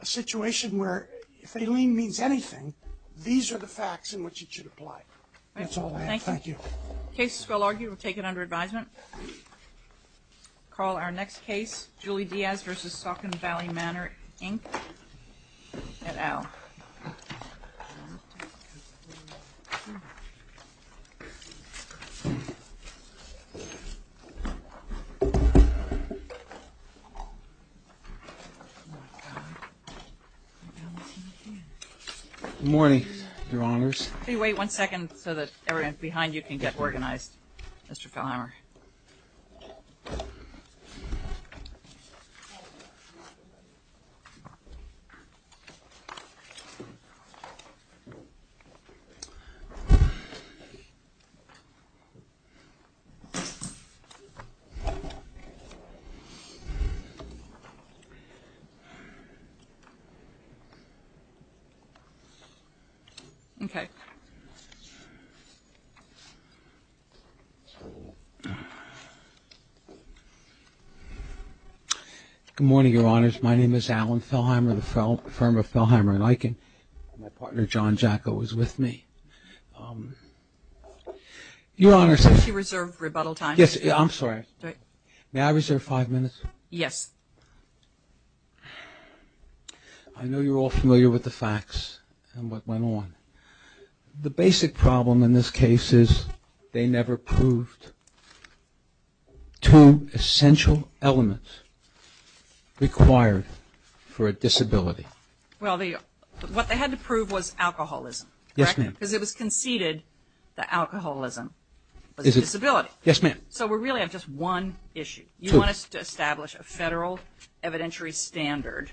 a situation where if they lean means anything these are the facts in which it should apply. That's all. Thank you. Cases will argue, we'll take it under advisement. Call our next case, Julie Diaz v. Saucon Valley Manor Inc. at Al. Good morning, your honors. Can you wait one second so that everyone behind you can get a picture? Okay. Good morning, your honors. My name is Alan Fellheimer, the firm of Fellheimer and Eichen. My partner, John Jacko, is with me. Your honors. Did you reserve rebuttal time? Yes, I'm sorry. May I reserve five minutes? Yes. I know you're all familiar with the facts and what went on. The basic problem in this case is they never proved two essential elements required for a disability. Well, what they had to prove was alcoholism. Yes, ma'am. Because it was conceded that alcoholism was a disability. Yes, ma'am. So we really have just one issue. You want us to establish a federal evidentiary standard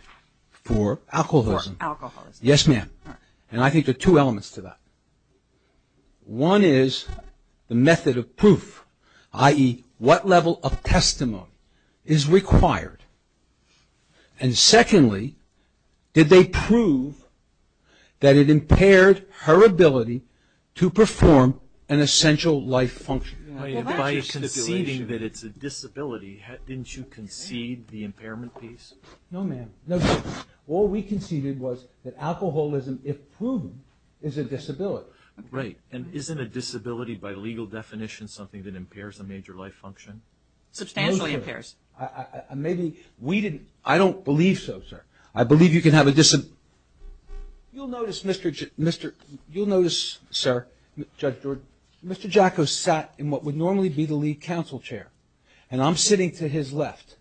for alcoholism. Yes, ma'am. And I think there are two elements to that. One is the method of proof, i.e., what level of testimony is required. And secondly, did they prove that it impaired her ability to perform an essential life function? By conceding that it's a disability, didn't you concede the impairment piece? No, ma'am. No, sir. All we conceded was that alcoholism, if proven, is a disability. Right. And isn't a disability, by legal definition, something that impairs a major life function? Substantially impairs. Maybe we didn't. I don't believe so, sir. I believe you can have a disability. You'll notice, sir, Judge George, Mr. Jacko sat in what would normally be the lead counsel chair. And I'm sitting to his left.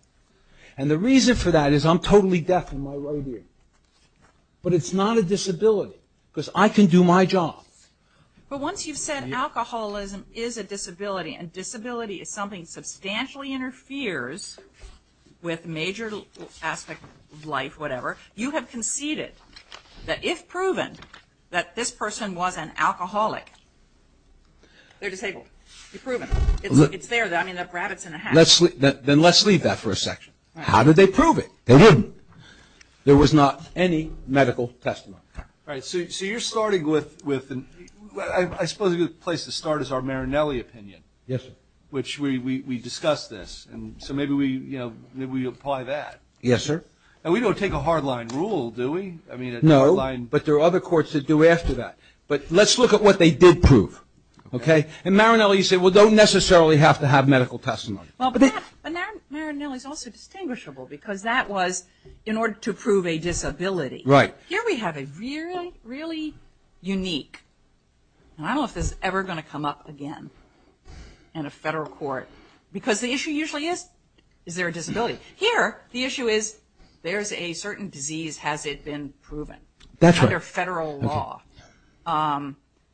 And the reason for that is I'm totally deaf in my right ear. But it's not a disability. Because I can do my job. But once you've said alcoholism is a disability, and disability is something that substantially interferes with major aspects of life, whatever, you have conceded that if proven, that this person was an alcoholic, they're disabled. You've proven it. It's there. I mean, the rabbit's in the hat. Then let's leave that for a section. How did they prove it? They wouldn't. There was not any medical testimony. Right. So you're starting with – I suppose a good place to start is our Marinelli opinion. Yes, sir. Which we discussed this. So maybe we apply that. Yes, sir. And we don't take a hardline rule, do we? No, but there are other courts that do after that. But let's look at what they did prove. And Marinelli said, well, they don't necessarily have to have medical testimony. But Marinelli's also distinguishable because that was in order to prove a disability. Right. Here we have a really, really unique – and I don't know if this is ever going to come up again in a federal court, because the issue usually is, is there a disability? Here, the issue is, there's a certain disease, has it been proven? That's right. Under federal law.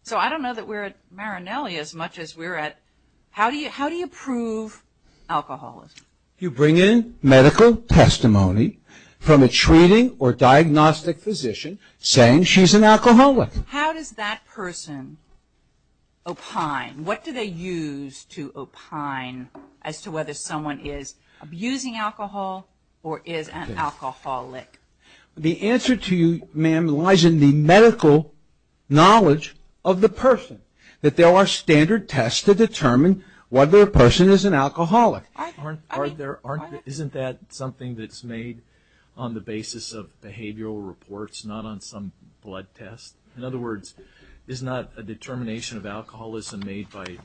So I don't know that we're at Marinelli as much as we're at, how do you prove alcoholism? You bring in medical testimony from a treating or diagnostic physician saying she's an alcoholic. How does that person opine? What do they use to opine as to whether someone is abusing alcohol or is an alcoholic? The answer to you, ma'am, lies in the medical knowledge of the person. That there are standard tests to determine whether a person is an alcoholic. Isn't that something that's made on the basis of behavioral reports, not on some blood test? In other words, is not a determination of alcoholism made by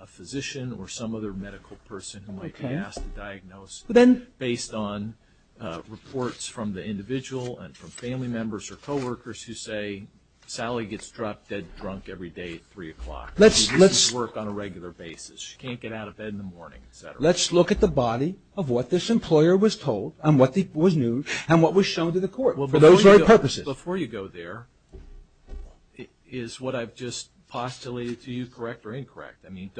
a physician or some other medical person who might be asked to diagnose based on reports from the individual and from family members or coworkers who say Sally gets drunk every day at 3 o'clock. She doesn't work on a regular basis. She can't get out of bed in the morning, et cetera. Let's look at the body of what this employer was told and what was new and what was shown to the court for those very purposes. Before you go there is what I've just postulated to you, correct or incorrect. I mean,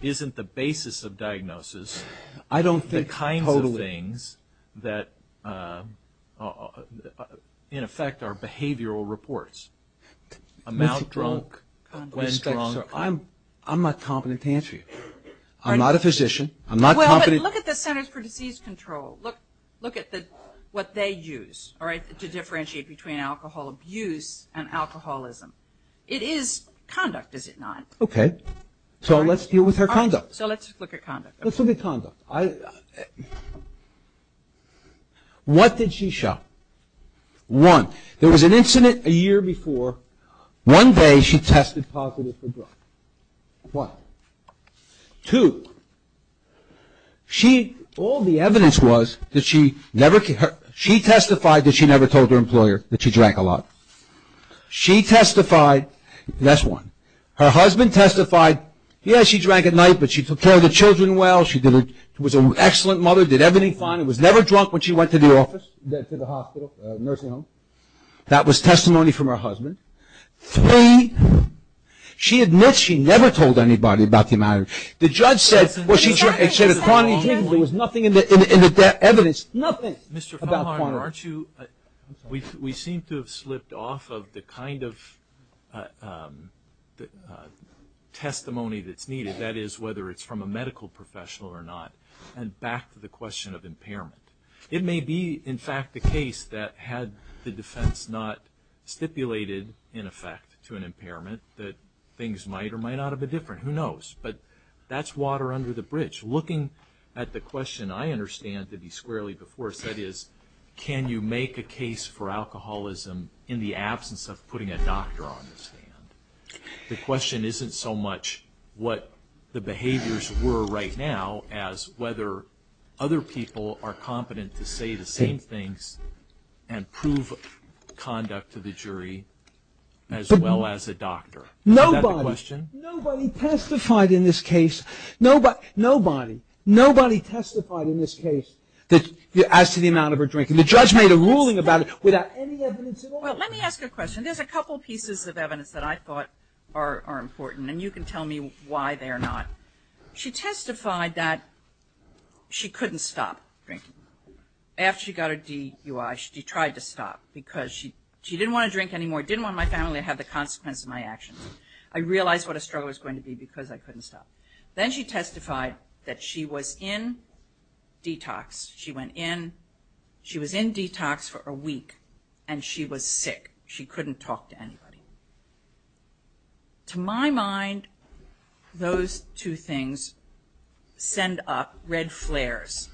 isn't the basis of diagnosis the kinds of things that in effect are behavioral reports? Amount drunk, when drunk. I'm not competent to answer you. I'm not a physician. I'm not competent. Well, but look at the Centers for Disease Control. Look at what they use to differentiate between alcohol abuse and alcoholism. It is conduct, is it not? Okay. So let's deal with her conduct. So let's look at conduct. Let's look at conduct. What did she show? One, there was an incident a year before. One day she tested positive for drunk. One. Two, she, all the evidence was that she never, she testified that she never told her employer that she drank a lot. She testified, that's one. Her husband testified, yes, she drank at night, but she took care of the children well. She was an excellent mother, did everything fine, was never drunk when she went to the office, to the hospital, nursing home. That was testimony from her husband. Three, she admits she never told anybody about the matter. The judge said, well, she drank a quantity of drinks. There was nothing in the evidence, nothing about quantity. Mr. Feinhardt, aren't you, we seem to have slipped off of the kind of testimony that's needed, that is whether it's from a medical professional or not. And back to the question of impairment. It may be, in fact, the case that had the defense not stipulated, in effect, to an impairment, that things might or might not have been different. Who knows? But that's water under the bridge. Looking at the question, I understand, that he squarely before said is, can you make a case for alcoholism in the absence of putting a doctor on the stand? The question isn't so much what the behaviors were right now as whether other people are competent to say the same things and prove conduct to the jury as well as a doctor. Is that the question? Nobody, nobody testified in this case. Nobody, nobody testified in this case as to the amount of her drinking. The judge made a ruling about it without any evidence at all. Well, let me ask you a question. There's a couple pieces of evidence that I thought are important, and you can tell me why they are not. She testified that she couldn't stop drinking. After she got her DUI, she tried to stop because she didn't want to drink anymore, didn't want my family to have the consequence of my actions. I realized what a struggle was going to be because I couldn't stop. Then she testified that she was in detox. She went in, she was in detox for a week, and she was sick. She couldn't talk to anybody. To my mind, those two things send up red flares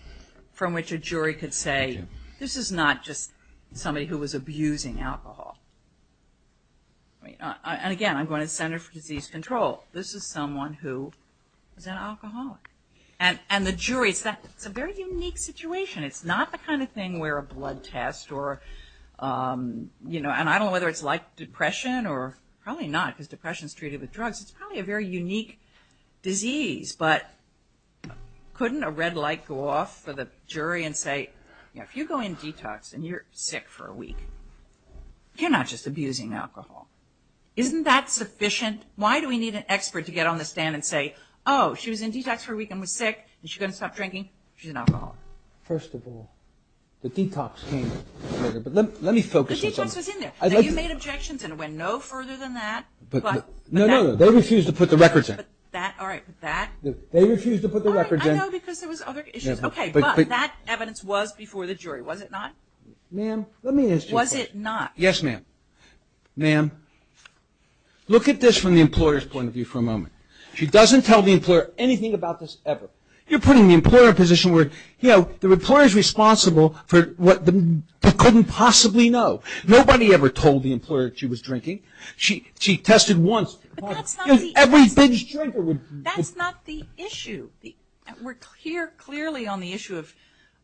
from which a jury could say, this is not just somebody who was abusing alcohol. And again, I'm going to the Center for Disease Control. This is someone who is an alcoholic. And the jury, it's a very unique situation. It's not the kind of thing where a blood test or, you know, and I don't know whether it's like depression or probably not because depression is treated with drugs. It's probably a very unique disease. But couldn't a red light go off for the jury and say, you know, if you go in detox and you're sick for a week, you're not just abusing alcohol. Isn't that sufficient? And why do we need an expert to get on the stand and say, oh, she was in detox for a week and was sick. Is she going to stop drinking? She's an alcoholic. First of all, the detox came later. But let me focus on something. The detox was in there. You made objections and it went no further than that. No, no, no. They refused to put the records in. All right. But that? They refused to put the records in. I know because there was other issues. Okay. But that evidence was before the jury, was it not? Ma'am, let me ask you a question. Was it not? Yes, ma'am. Ma'am, look at this from the employer's point of view for a moment. She doesn't tell the employer anything about this ever. You're putting the employer in a position where, you know, the employer is responsible for what they couldn't possibly know. Nobody ever told the employer that she was drinking. She tested once. Every binge drinker would. That's not the issue. We're here clearly on the issue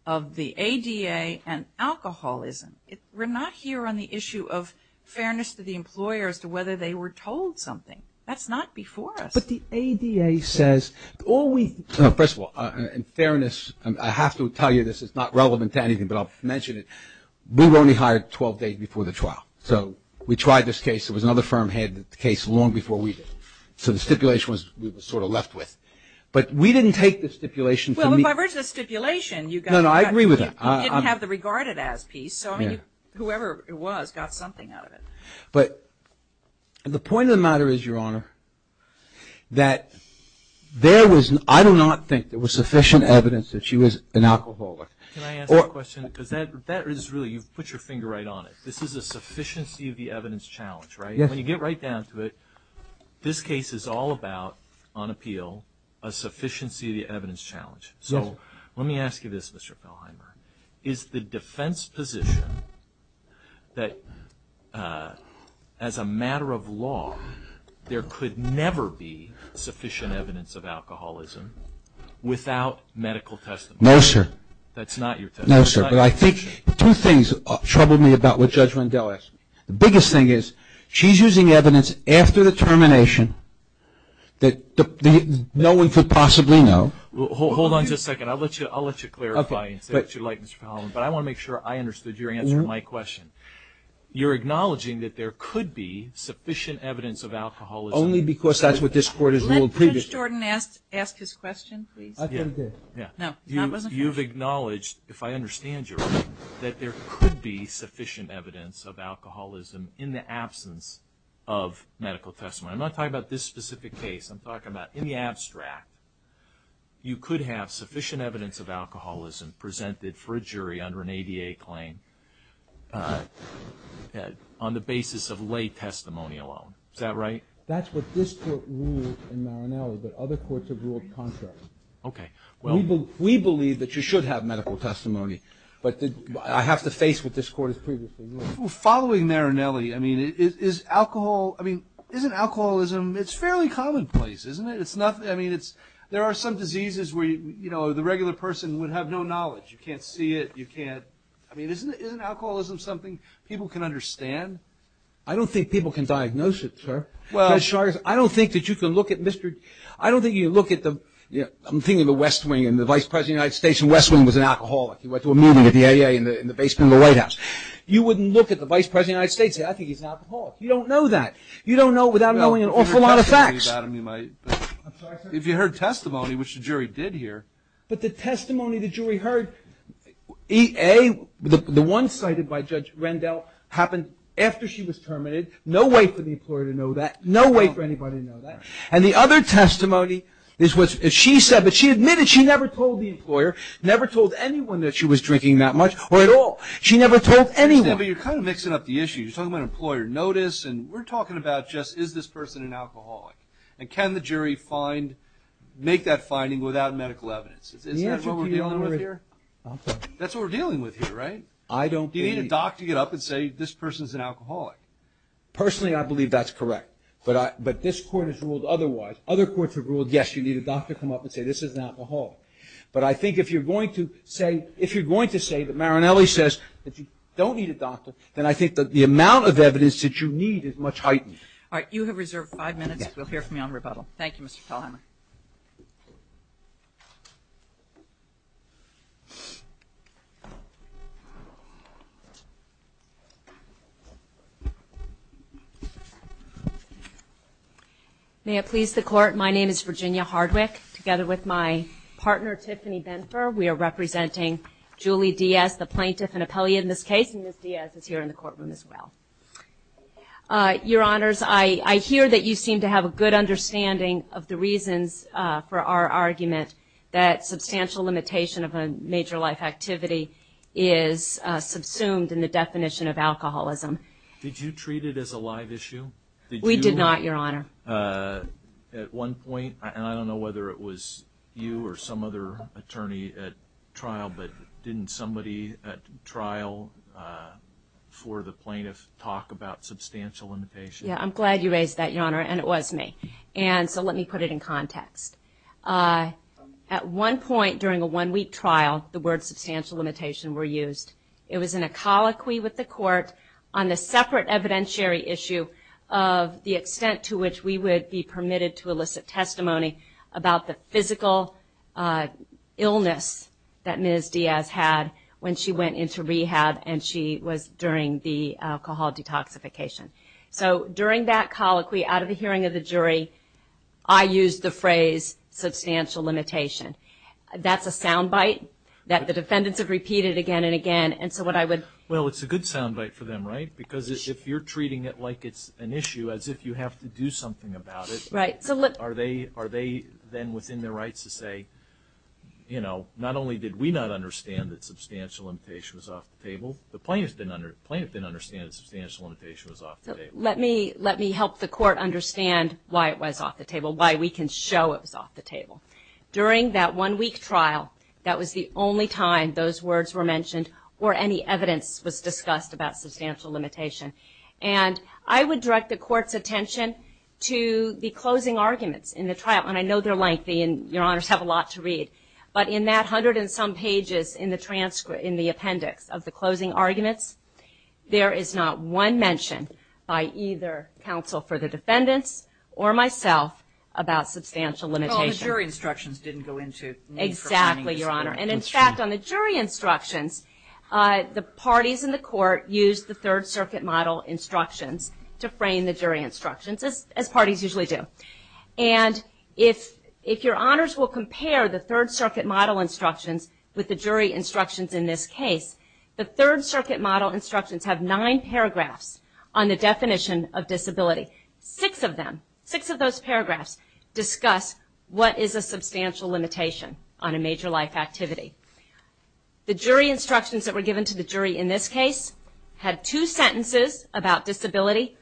of the ADA and alcoholism. We're not here on the issue of fairness to the employer as to whether they were told something. That's not before us. But the ADA says all we – first of all, in fairness, I have to tell you this is not relevant to anything, but I'll mention it. We were only hired 12 days before the trial. So we tried this case. It was another firm had the case long before we did. So the stipulation was we were sort of left with. But we didn't take the stipulation. Well, if I read the stipulation, you got – No, no, I agree with that. You didn't have the regarded as piece. So, I mean, whoever it was got something out of it. But the point of the matter is, Your Honor, that there was – I do not think there was sufficient evidence that she was an alcoholic. Can I ask a question? Because that is really – you've put your finger right on it. This is a sufficiency of the evidence challenge, right? When you get right down to it, this case is all about, on appeal, a sufficiency of the evidence challenge. So let me ask you this, Mr. Feldheimer. Is the defense position that, as a matter of law, there could never be sufficient evidence of alcoholism without medical testimony? No, sir. That's not your testimony? No, sir. But I think two things trouble me about what Judge Rendell asked me. The biggest thing is she's using evidence after the termination that no one could possibly know. Hold on just a second. I'll let you clarify and say what you'd like, Mr. Feldheimer. But I want to make sure I understood your answer to my question. You're acknowledging that there could be sufficient evidence of alcoholism. Only because that's what this Court has ruled previously. Let Judge Jordan ask his question, please. I thought he did. No, that wasn't his question. You've acknowledged, if I understand you right, that there could be sufficient evidence of alcoholism in the absence of medical testimony. I'm not talking about this specific case. I'm talking about in the abstract. You could have sufficient evidence of alcoholism presented for a jury under an ADA claim on the basis of lay testimony alone. Is that right? That's what this Court ruled in Marinelli, but other courts have ruled contrary. Okay. We believe that you should have medical testimony, but I have to face what this Court has previously ruled. Following Marinelli, I mean, isn't alcoholism, it's fairly commonplace, isn't it? I mean, there are some diseases where the regular person would have no knowledge. You can't see it. I mean, isn't alcoholism something people can understand? I don't think people can diagnose it, sir. I don't think that you can look at Mr. I don't think you can look at the, I'm thinking of the West Wing and the Vice President of the United States and West Wing was an alcoholic. He went to a meeting at the ADA in the basement of the White House. You wouldn't look at the Vice President of the United States and say, I think he's an alcoholic. You don't know that. You don't know without knowing an awful lot of facts. If you heard testimony, which the jury did hear. But the testimony the jury heard, the one cited by Judge Rendell, happened after she was terminated. No way for the employer to know that. No way for anybody to know that. And the other testimony is what she said, but she admitted she never told the employer, never told anyone that she was drinking that much or at all. She never told anyone. But you're kind of mixing up the issues. You're talking about employer notice and we're talking about just is this person an alcoholic? And can the jury find, make that finding without medical evidence? Is that what we're dealing with here? I'm sorry. That's what we're dealing with here, right? I don't believe. Do you need a doctor to get up and say this person's an alcoholic? Personally, I believe that's correct. But this court has ruled otherwise. Other courts have ruled, yes, you need a doctor to come up and say this is an alcoholic. But I think if you're going to say, if you're going to say that Marinelli says that you don't need a doctor, then I think that the amount of evidence that you need is much heightened. All right. You have reserved five minutes. We'll hear from you on rebuttal. Thank you, Mr. Feldheimer. May it please the Court. My name is Virginia Hardwick, together with my partner, Tiffany Benfer. We are representing Julie Diaz, the plaintiff and appellee in this case, and Ms. Diaz is here in the courtroom as well. Your Honors, I hear that you seem to have a good understanding of the reasons for our argument that substantial limitation of a major life activity is subsumed in the definition of alcoholism. Did you treat it as a live issue? We did not, Your Honor. At one point, and I don't know whether it was you or some other attorney at trial, but didn't somebody at trial for the plaintiff talk about substantial limitation? Yeah, I'm glad you raised that, Your Honor, and it was me. And so let me put it in context. At one point during a one-week trial, the words substantial limitation were used. It was in a colloquy with the court on a separate evidentiary issue of the extent to which we would be permitted to elicit testimony about the physical illness that Ms. Diaz had when she went into rehab and she was during the alcohol detoxification. So during that colloquy, out of the hearing of the jury, I used the phrase substantial limitation. That's a soundbite that the defendants have repeated again and again, and so what I would Well, it's a good soundbite for them, right? Because if you're treating it like it's an issue as if you have to do something about it, are they then within their rights to say, you know, not only did we not understand that substantial limitation was off the table, the plaintiff didn't understand that substantial limitation was off the table. Let me help the court understand why it was off the table, why we can show it was off the table. During that one-week trial, that was the only time those words were mentioned or any evidence was discussed about substantial limitation. And I would direct the court's attention to the closing arguments in the trial, and I know they're lengthy and your honors have a lot to read, but in that hundred and some pages in the appendix of the closing arguments, there is not one mention by either counsel for the defendants or myself about substantial limitation. The jury instructions didn't go into need for framing this. Exactly, your honor, and in fact, on the jury instructions, the parties in the court used the Third Circuit model instructions to frame the jury instructions, as parties usually do. And if your honors will compare the Third Circuit model instructions with the jury instructions in this case, six of them, six of those paragraphs discuss what is a substantial limitation on a major life activity. The jury instructions that were given to the jury in this case had two sentences about disability,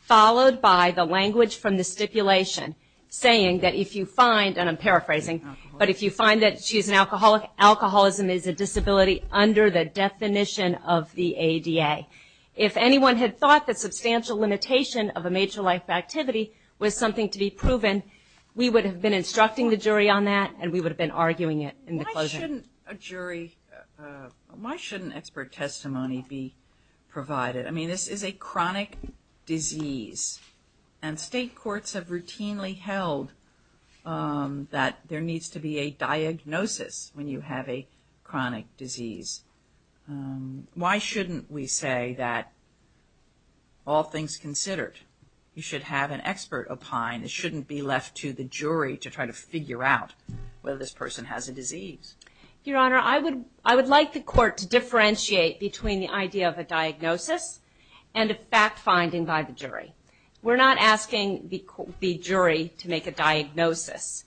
followed by the language from the stipulation saying that if you find, and I'm paraphrasing, but if you find that she's an alcoholic, alcoholism is a disability under the definition of the ADA. If anyone had thought that substantial limitation of a major life activity was something to be proven, we would have been instructing the jury on that and we would have been arguing it in the closing. Why shouldn't a jury, why shouldn't expert testimony be provided? I mean, this is a chronic disease, and state courts have routinely held that there needs to be a diagnosis when you have a chronic disease. Why shouldn't we say that all things considered, you should have an expert opine. It shouldn't be left to the jury to try to figure out whether this person has a disease. Your Honor, I would like the court to differentiate between the idea of a diagnosis and a fact finding by the jury. We're not asking the jury to make a diagnosis.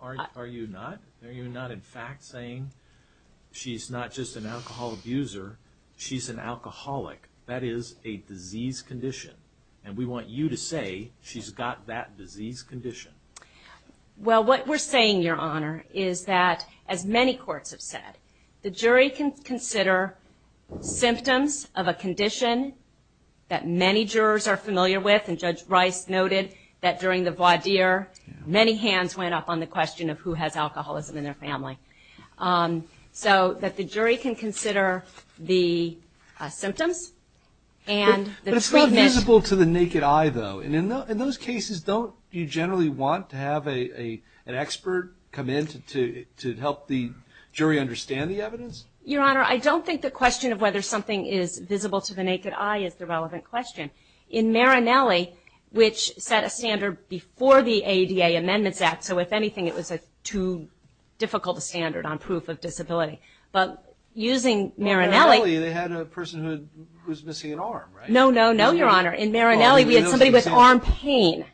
Are you not? Are you not, in fact, saying she's not just an alcohol abuser, she's an alcoholic. That is a disease condition, and we want you to say she's got that disease condition. Well, what we're saying, Your Honor, is that, as many courts have said, the jury can consider symptoms of a condition that many jurors are familiar with, and Judge Rice noted that during the voir dire, many hands went up on the question of who has alcoholism in their family. So that the jury can consider the symptoms and the treatment. But it's not visible to the naked eye, though. And in those cases, don't you generally want to have an expert come in to help the jury understand the evidence? Your Honor, I don't think the question of whether something is visible to the naked eye is the relevant question. In Marinelli, which set a standard before the ADA Amendments Act, so if anything, it was a too difficult a standard on proof of disability. But using Marinelli... In Marinelli, they had a person who was missing an arm, right? No, no, no, Your Honor. In Marinelli, we had somebody with arm pain.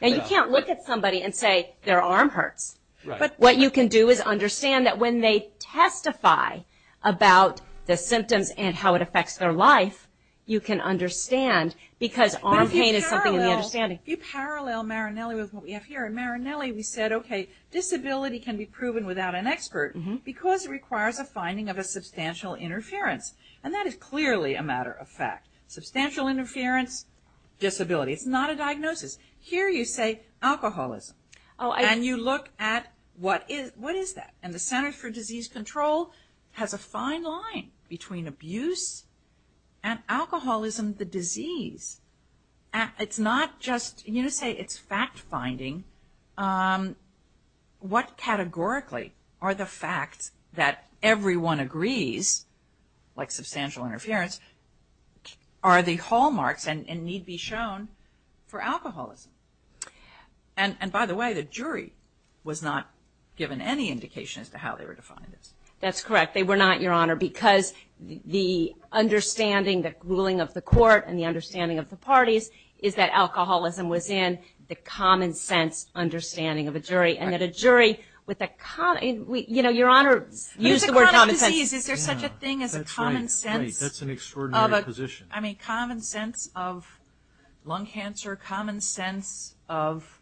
Now, you can't look at somebody and say their arm hurts. But what you can do is understand that when they testify about the symptoms and how it affects their life, you can understand because arm pain is something in the understanding. But if you parallel Marinelli with what we have here, in Marinelli we said, okay, disability can be proven without an expert because it requires a finding of a substantial interference. And that is clearly a matter of fact. Substantial interference, disability. It's not a diagnosis. Here you say alcoholism. And you look at what is that? And the Center for Disease Control has a fine line between abuse and alcoholism, the disease. It's not just, you know, say it's fact-finding. What categorically are the facts that everyone agrees, like substantial interference, are the hallmarks and need be shown for alcoholism? And by the way, the jury was not given any indication as to how they were defined. That's correct. They were not, Your Honor, because the understanding, the ruling of the court and the understanding of the parties is that alcoholism was in the common sense understanding of a jury. And that a jury with a common, you know, Your Honor, use the word common sense. Is a chronic disease, is there such a thing as a common sense? That's right. That's an extraordinary position. I mean, common sense of lung cancer, common sense of,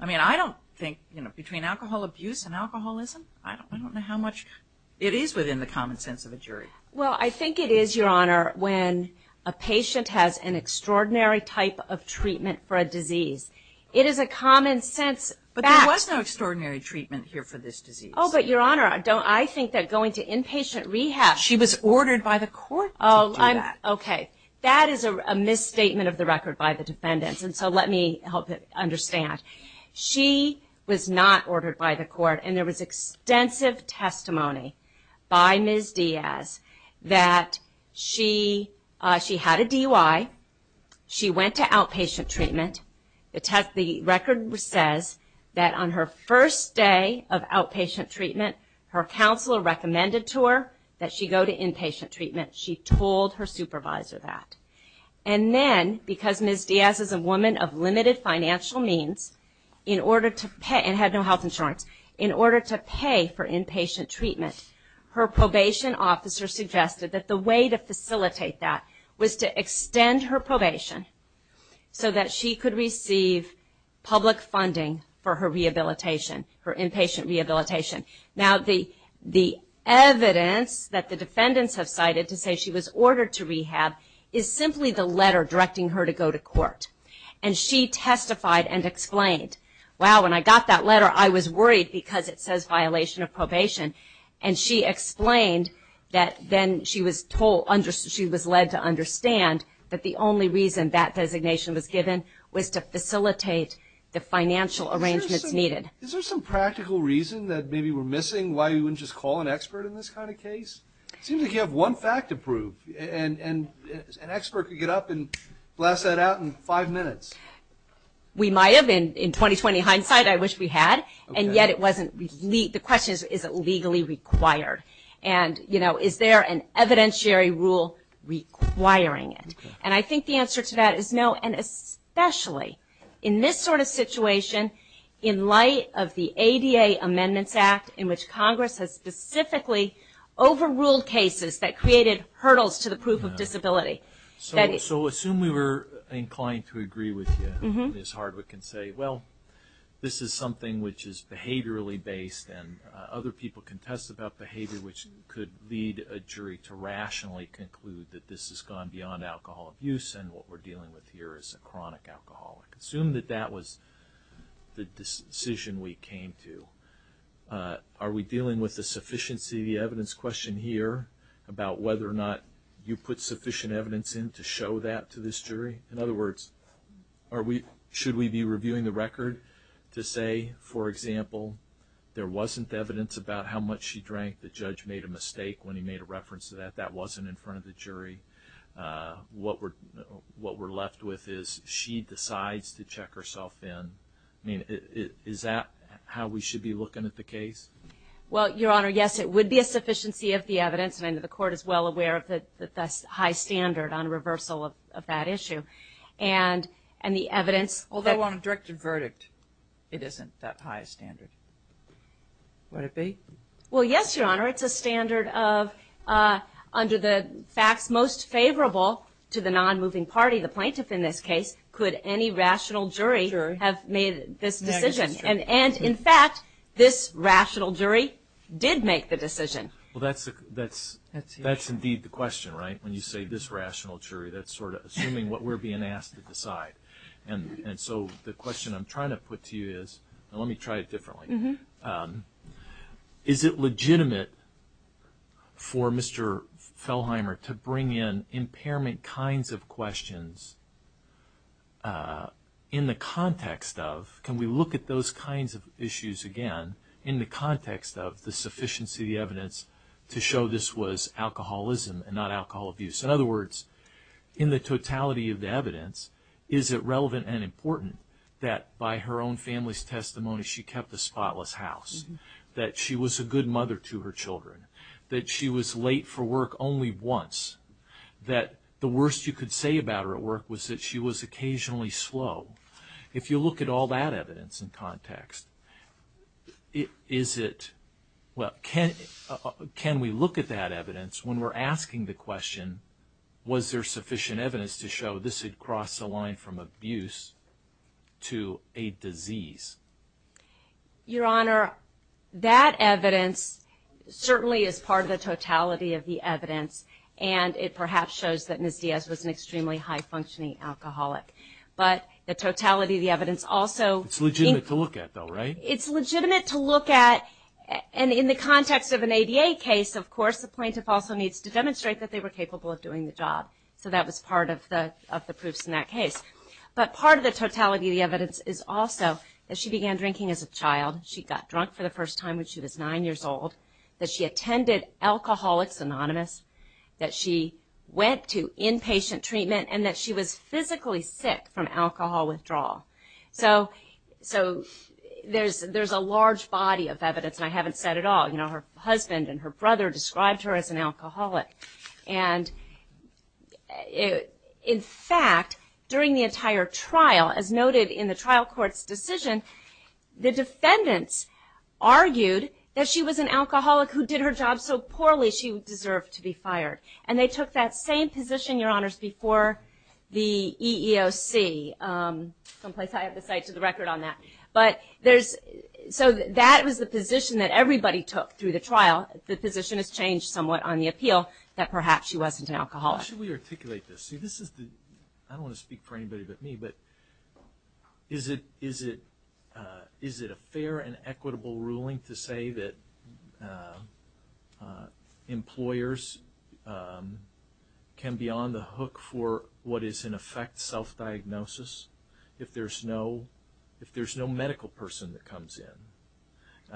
I mean, I don't think, you know, between alcohol abuse and alcoholism, I don't know how much it is within the common sense of a jury. Well, I think it is, Your Honor, when a patient has an extraordinary type of treatment for a disease. It is a common sense fact. But there was no extraordinary treatment here for this disease. Oh, but Your Honor, I think that going to inpatient rehab. She was ordered by the court to do that. Oh, okay. That is a misstatement of the record by the defendants. And so let me help you understand. She was not ordered by the court. And there was extensive testimony by Ms. Diaz that she had a DUI. She went to outpatient treatment. The record says that on her first day of outpatient treatment, her counselor recommended to her that she go to inpatient treatment. She told her supervisor that. And then, because Ms. Diaz is a woman of limited financial means and had no health insurance, in order to pay for inpatient treatment, her probation officer suggested that the way to facilitate that was to extend her probation so that she could receive public funding for her rehabilitation, her inpatient rehabilitation. Now, the evidence that the defendants have cited to say she was ordered to rehab is simply the letter directing her to go to court. And she testified and explained, wow, when I got that letter, I was worried because it says violation of probation. And she explained that then she was led to understand that the only reason that designation was given was to facilitate the financial arrangements needed. Is there some practical reason that maybe we're missing why you wouldn't just call an expert in this kind of case? It seems like you have one fact to prove. And an expert could get up and blast that out in five minutes. We might have. In 20-20 hindsight, I wish we had. And yet, the question is, is it legally required? And, you know, is there an evidentiary rule requiring it? And I think the answer to that is no. And especially in this sort of situation, in light of the ADA Amendments Act, in which Congress has specifically overruled cases that created hurdles to the proof of disability. So assume we were inclined to agree with you. Ms. Hardwick can say, well, this is something which is behaviorally based and other people can test about behavior which could lead a jury to rationally conclude that this has gone beyond alcohol abuse and what we're dealing with here is a chronic alcoholic. Assume that that was the decision we came to. Are we dealing with the sufficiency of the evidence question here about whether or not you put sufficient evidence in to show that to this jury? In other words, should we be reviewing the record to say, for example, there wasn't evidence about how much she drank, the judge made a mistake when he made a reference to that, that wasn't in front of the jury, what we're left with is she decides to check herself in. I mean, is that how we should be looking at the case? Well, Your Honor, yes, it would be a sufficiency of the evidence and the Court is well aware of the high standard on reversal of that issue. And the evidence... Although on a directed verdict, it isn't that high a standard. Would it be? Well, yes, Your Honor, it's a standard of under the facts most favorable to the non-moving party, the plaintiff in this case, could any rational jury have made this decision. And in fact, this rational jury did make the decision. Well, that's indeed the question, right? When you say this rational jury, that's sort of assuming what we're being asked to decide. And so the question I'm trying to put to you is, and let me try it differently, is it legitimate for Mr. Fellheimer to bring in impairment kinds of questions in the context of, can we look at those kinds of issues again in the context of the sufficiency of the evidence to show this was alcoholism and not alcohol abuse? In other words, in the totality of the evidence, is it relevant and important that by her own family's testimony she kept a spotless house, that she was a good mother to her children, that she was late for work only once, that the worst you could say about her at work was that she was occasionally slow? If you look at all that evidence in context, is it... Can we look at that evidence when we're asking the question, was there sufficient evidence to show this had crossed the line from abuse to a disease? Your Honor, that evidence certainly is part of the totality of the evidence, and it perhaps shows that Ms. Diaz was an extremely high-functioning alcoholic. But the totality of the evidence also... It's legitimate to look at, though, right? The plaintiff also needs to demonstrate that they were capable of doing the job, so that was part of the proofs in that case. But part of the totality of the evidence is also that she began drinking as a child, she got drunk for the first time when she was 9 years old, that she attended Alcoholics Anonymous, that she went to inpatient treatment, and that she was physically sick from alcohol withdrawal. So there's a large body of evidence, and I haven't said it all. Her husband and her brother described her as an alcoholic. And in fact, during the entire trial, as noted in the trial court's decision, the defendants argued that she was an alcoholic who did her job so poorly she deserved to be fired. And they took that same position, Your Honors, before the EEOC. Someplace I have to cite to the record on that. So that was the position that everybody took through the trial. The position has changed somewhat on the appeal, that perhaps she wasn't an alcoholic. How should we articulate this? I don't want to speak for anybody but me, but is it a fair and equitable ruling to say that employers can be on the hook for what is, in effect, self-diagnosis if there's no medical person that comes in,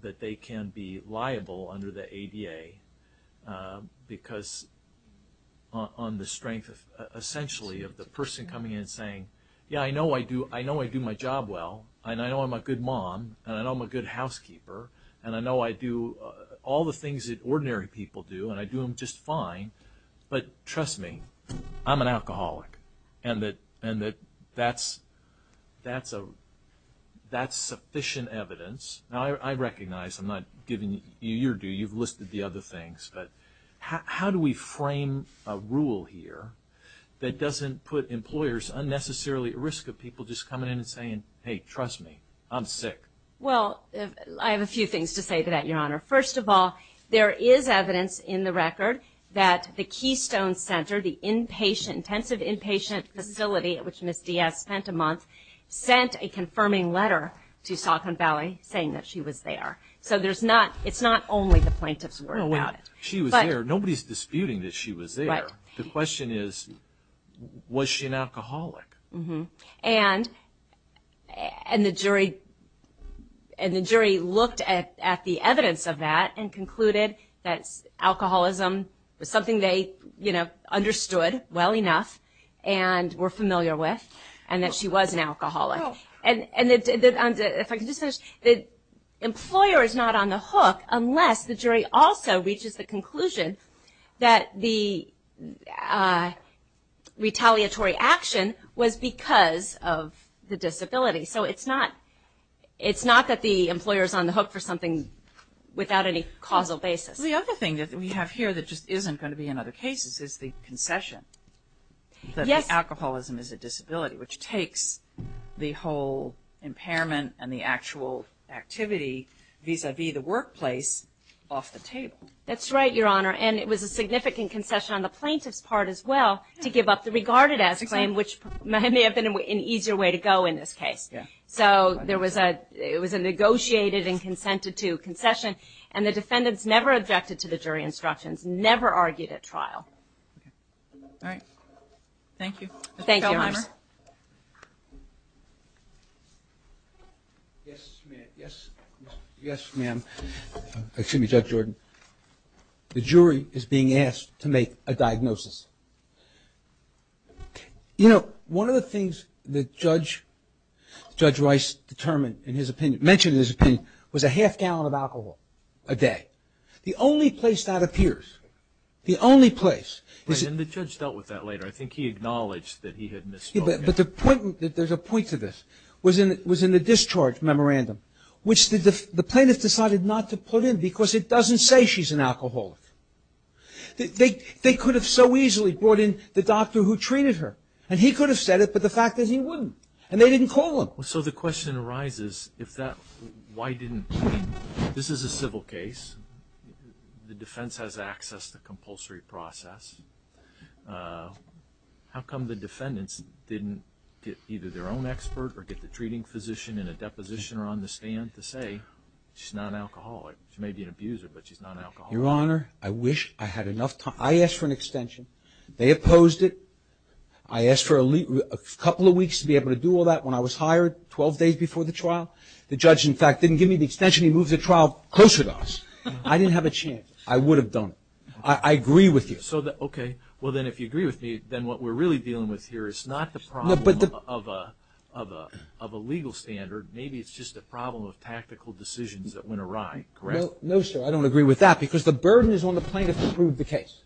that they can be liable under the ADA because on the strength, essentially, of the person coming in and saying, Yeah, I know I do my job well, and I know I'm a good mom, and I know I'm a good housekeeper, and I know I do all the things that ordinary people do, and I do them just fine. But trust me, I'm an alcoholic. And that's sufficient evidence. Now, I recognize I'm not giving you your due. You've listed the other things. But how do we frame a rule here that doesn't put employers unnecessarily at risk of people just coming in and saying, Hey, trust me, I'm sick? Well, I have a few things to say to that, Your Honor. First of all, there is evidence in the record that the Keystone Center, the intensive inpatient facility at which Ms. Diaz spent a month, sent a confirming letter to Saucon Valley saying that she was there. So it's not only the plaintiff's word about it. She was there. Nobody's disputing that she was there. The question is, was she an alcoholic? And the jury looked at the evidence of that and concluded that alcoholism was something they understood well enough and were familiar with and that she was an alcoholic. And if I could just finish, the employer is not on the hook unless the jury also reaches the conclusion that the retaliatory action was because of the disability. So it's not that the employer is on the hook for something without any causal basis. The other thing that we have here that just isn't going to be in other cases is the concession that alcoholism is a disability, which takes the whole impairment and the actual activity vis-à-vis the workplace off the table. That's right, Your Honor. And it was a significant concession on the plaintiff's part as well to give up the regarded as claim, which may have been an easier way to go in this case. So it was a negotiated and consented to concession, and the defendants never objected to the jury instructions, never argued at trial. All right. Thank you. Thank you, Your Honor. Yes, ma'am. Excuse me, Judge Jordan. The jury is being asked to make a diagnosis. You know, one of the things that Judge Rice determined in his opinion, mentioned in his opinion, was a half gallon of alcohol a day. The only place that appears, the only place... And the judge dealt with that later. I think he acknowledged that he had misspoken. But the point, there's a point to this, was in the discharge memorandum, which the plaintiff decided not to put in, because it doesn't say she's an alcoholic. They could have so easily brought in the doctor who treated her, and he could have said it, but the fact is he wouldn't. And they didn't call him. So the question arises, if that, why didn't... This is a civil case. The defense has access to compulsory process. How come the defendants didn't get either their own expert or get the treating physician and a depositioner on the stand to say she's not an alcoholic? She may be an abuser, but she's not an alcoholic. Your Honor, I wish I had enough time. I asked for an extension. They opposed it. I asked for a couple of weeks to be able to do all that when I was hired, 12 days before the trial. The judge, in fact, didn't give me the extension. He moved the trial closer to us. I didn't have a chance. I would have done it. I agree with you. Okay. Well, then if you agree with me, then what we're really dealing with here is not the problem of a legal standard. Maybe it's just a problem of tactical decisions that went awry. Correct? No, sir. I don't agree with that because the burden is on the plaintiff to prove the case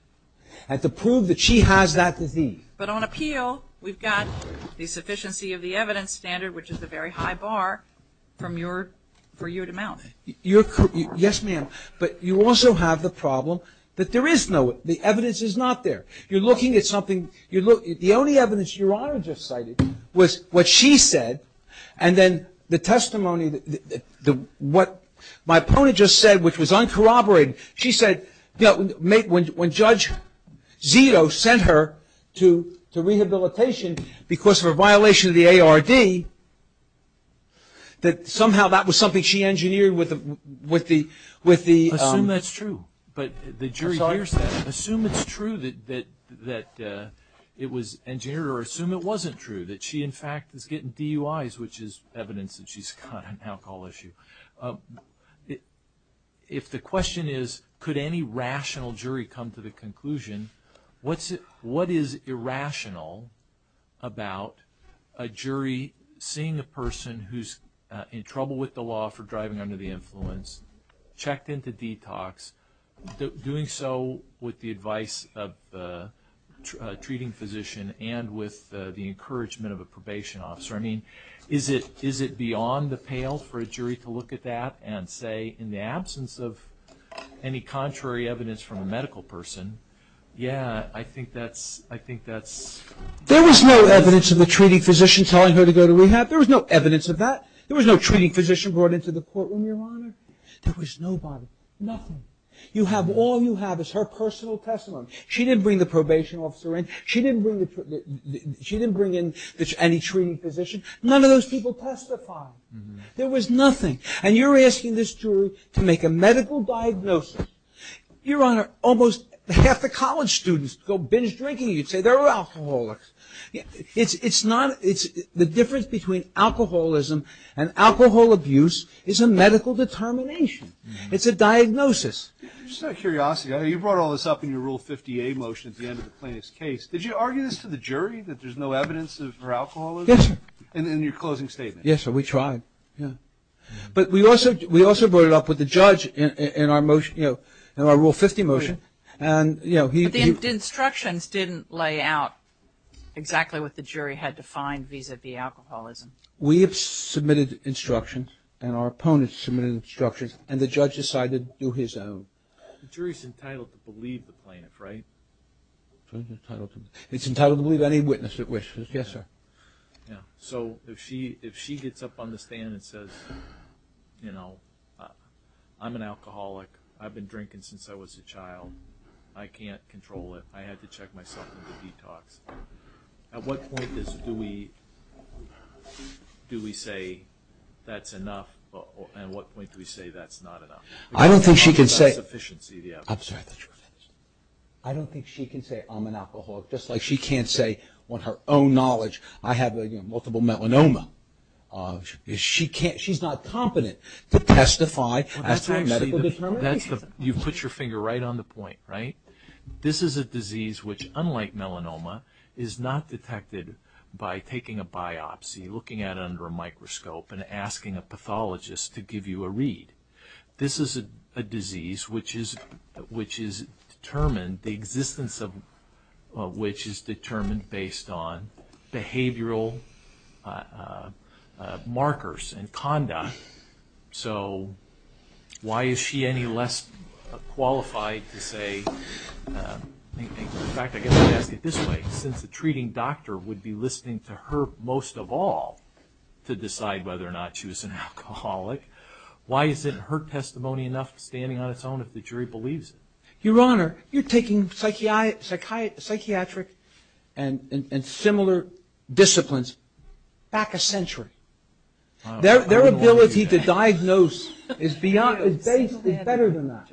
and to prove that she has that disease. But on appeal, we've got the sufficiency of the evidence standard, which is the very high bar for you to mount. Yes, ma'am. But you also have the problem that there is no evidence. The evidence is not there. You're looking at something. The only evidence Your Honor just cited was what she said and then the testimony, what my opponent just said, which was uncorroborated. She said when Judge Zito sent her to rehabilitation because of a violation of the ARD, that somehow that was something she engineered with the ---- Assume that's true. But the jury hears that. Assume it's true that it was engineered or assume it wasn't true, that she, in fact, is getting DUIs, which is evidence that she's got an alcohol issue. If the question is could any rational jury come to the conclusion, what is irrational about a jury seeing a person who's in trouble with the law for driving under the influence, checked into detox, doing so with the advice of a treating physician and with the encouragement of a probation officer? I mean, is it beyond the pale for a jury to look at that and say in the absence of any contrary evidence from a medical person, yeah, I think that's ---- There was no evidence of the treating physician telling her to go to rehab. There was no evidence of that. There was no treating physician brought into the courtroom, Your Honor. There was nobody. Nothing. You have all you have is her personal testimony. She didn't bring the probation officer in. She didn't bring in any treating physician. None of those people testified. There was nothing. And you're asking this jury to make a medical diagnosis. Your Honor, almost half the college students go binge drinking. You'd say they're alcoholics. It's not ---- The difference between alcoholism and alcohol abuse is a medical determination. It's a diagnosis. Just out of curiosity, you brought all this up in your Rule 50A motion at the end of the plaintiff's case. Did you argue this to the jury, that there's no evidence of her alcoholism? Yes, sir. In your closing statement? Yes, sir. We tried. But we also brought it up with the judge in our Rule 50 motion. But the instructions didn't lay out exactly what the jury had defined vis-à-vis alcoholism. We have submitted instructions, and our opponents submitted instructions, and the judge decided to do his own. The jury's entitled to believe the plaintiff, right? It's entitled to believe any witness that wishes. Yes, sir. So if she gets up on the stand and says, you know, I'm an alcoholic. I've been drinking since I was a child. I can't control it. I had to check myself into detox. At what point do we say that's enough, and at what point do we say that's not enough? I don't think she can say I'm an alcoholic, just like she can't say on her own knowledge. I have multiple melanoma. She's not competent to testify after a medical determination. You've put your finger right on the point, right? This is a disease which, unlike melanoma, is not detected by taking a biopsy, looking at it under a microscope, and asking a pathologist to give you a read. This is a disease which is determined, the existence of which is determined based on behavioral markers and conduct. So why is she any less qualified to say? In fact, I guess I'd ask it this way. Since the treating doctor would be listening to her most of all to decide whether or not she was an alcoholic, why isn't her testimony enough standing on its own if the jury believes it? Your Honor, you're taking psychiatric and similar disciplines back a century. Their ability to diagnose is better than that.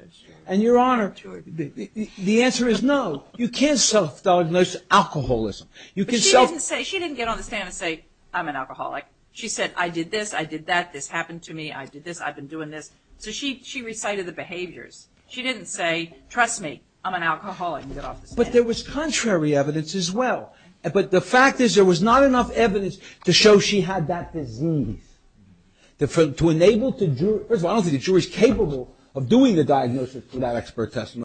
And, Your Honor, the answer is no. You can't self-diagnose alcoholism. But she didn't get on the stand and say, I'm an alcoholic. She said, I did this, I did that, this happened to me, I did this, I've been doing this. So she recited the behaviors. She didn't say, trust me, I'm an alcoholic, and get off the stand. But there was contrary evidence as well. But the fact is there was not enough evidence to show she had that disease. First of all, I don't think the jury is capable of doing the diagnosis for that expert testimony.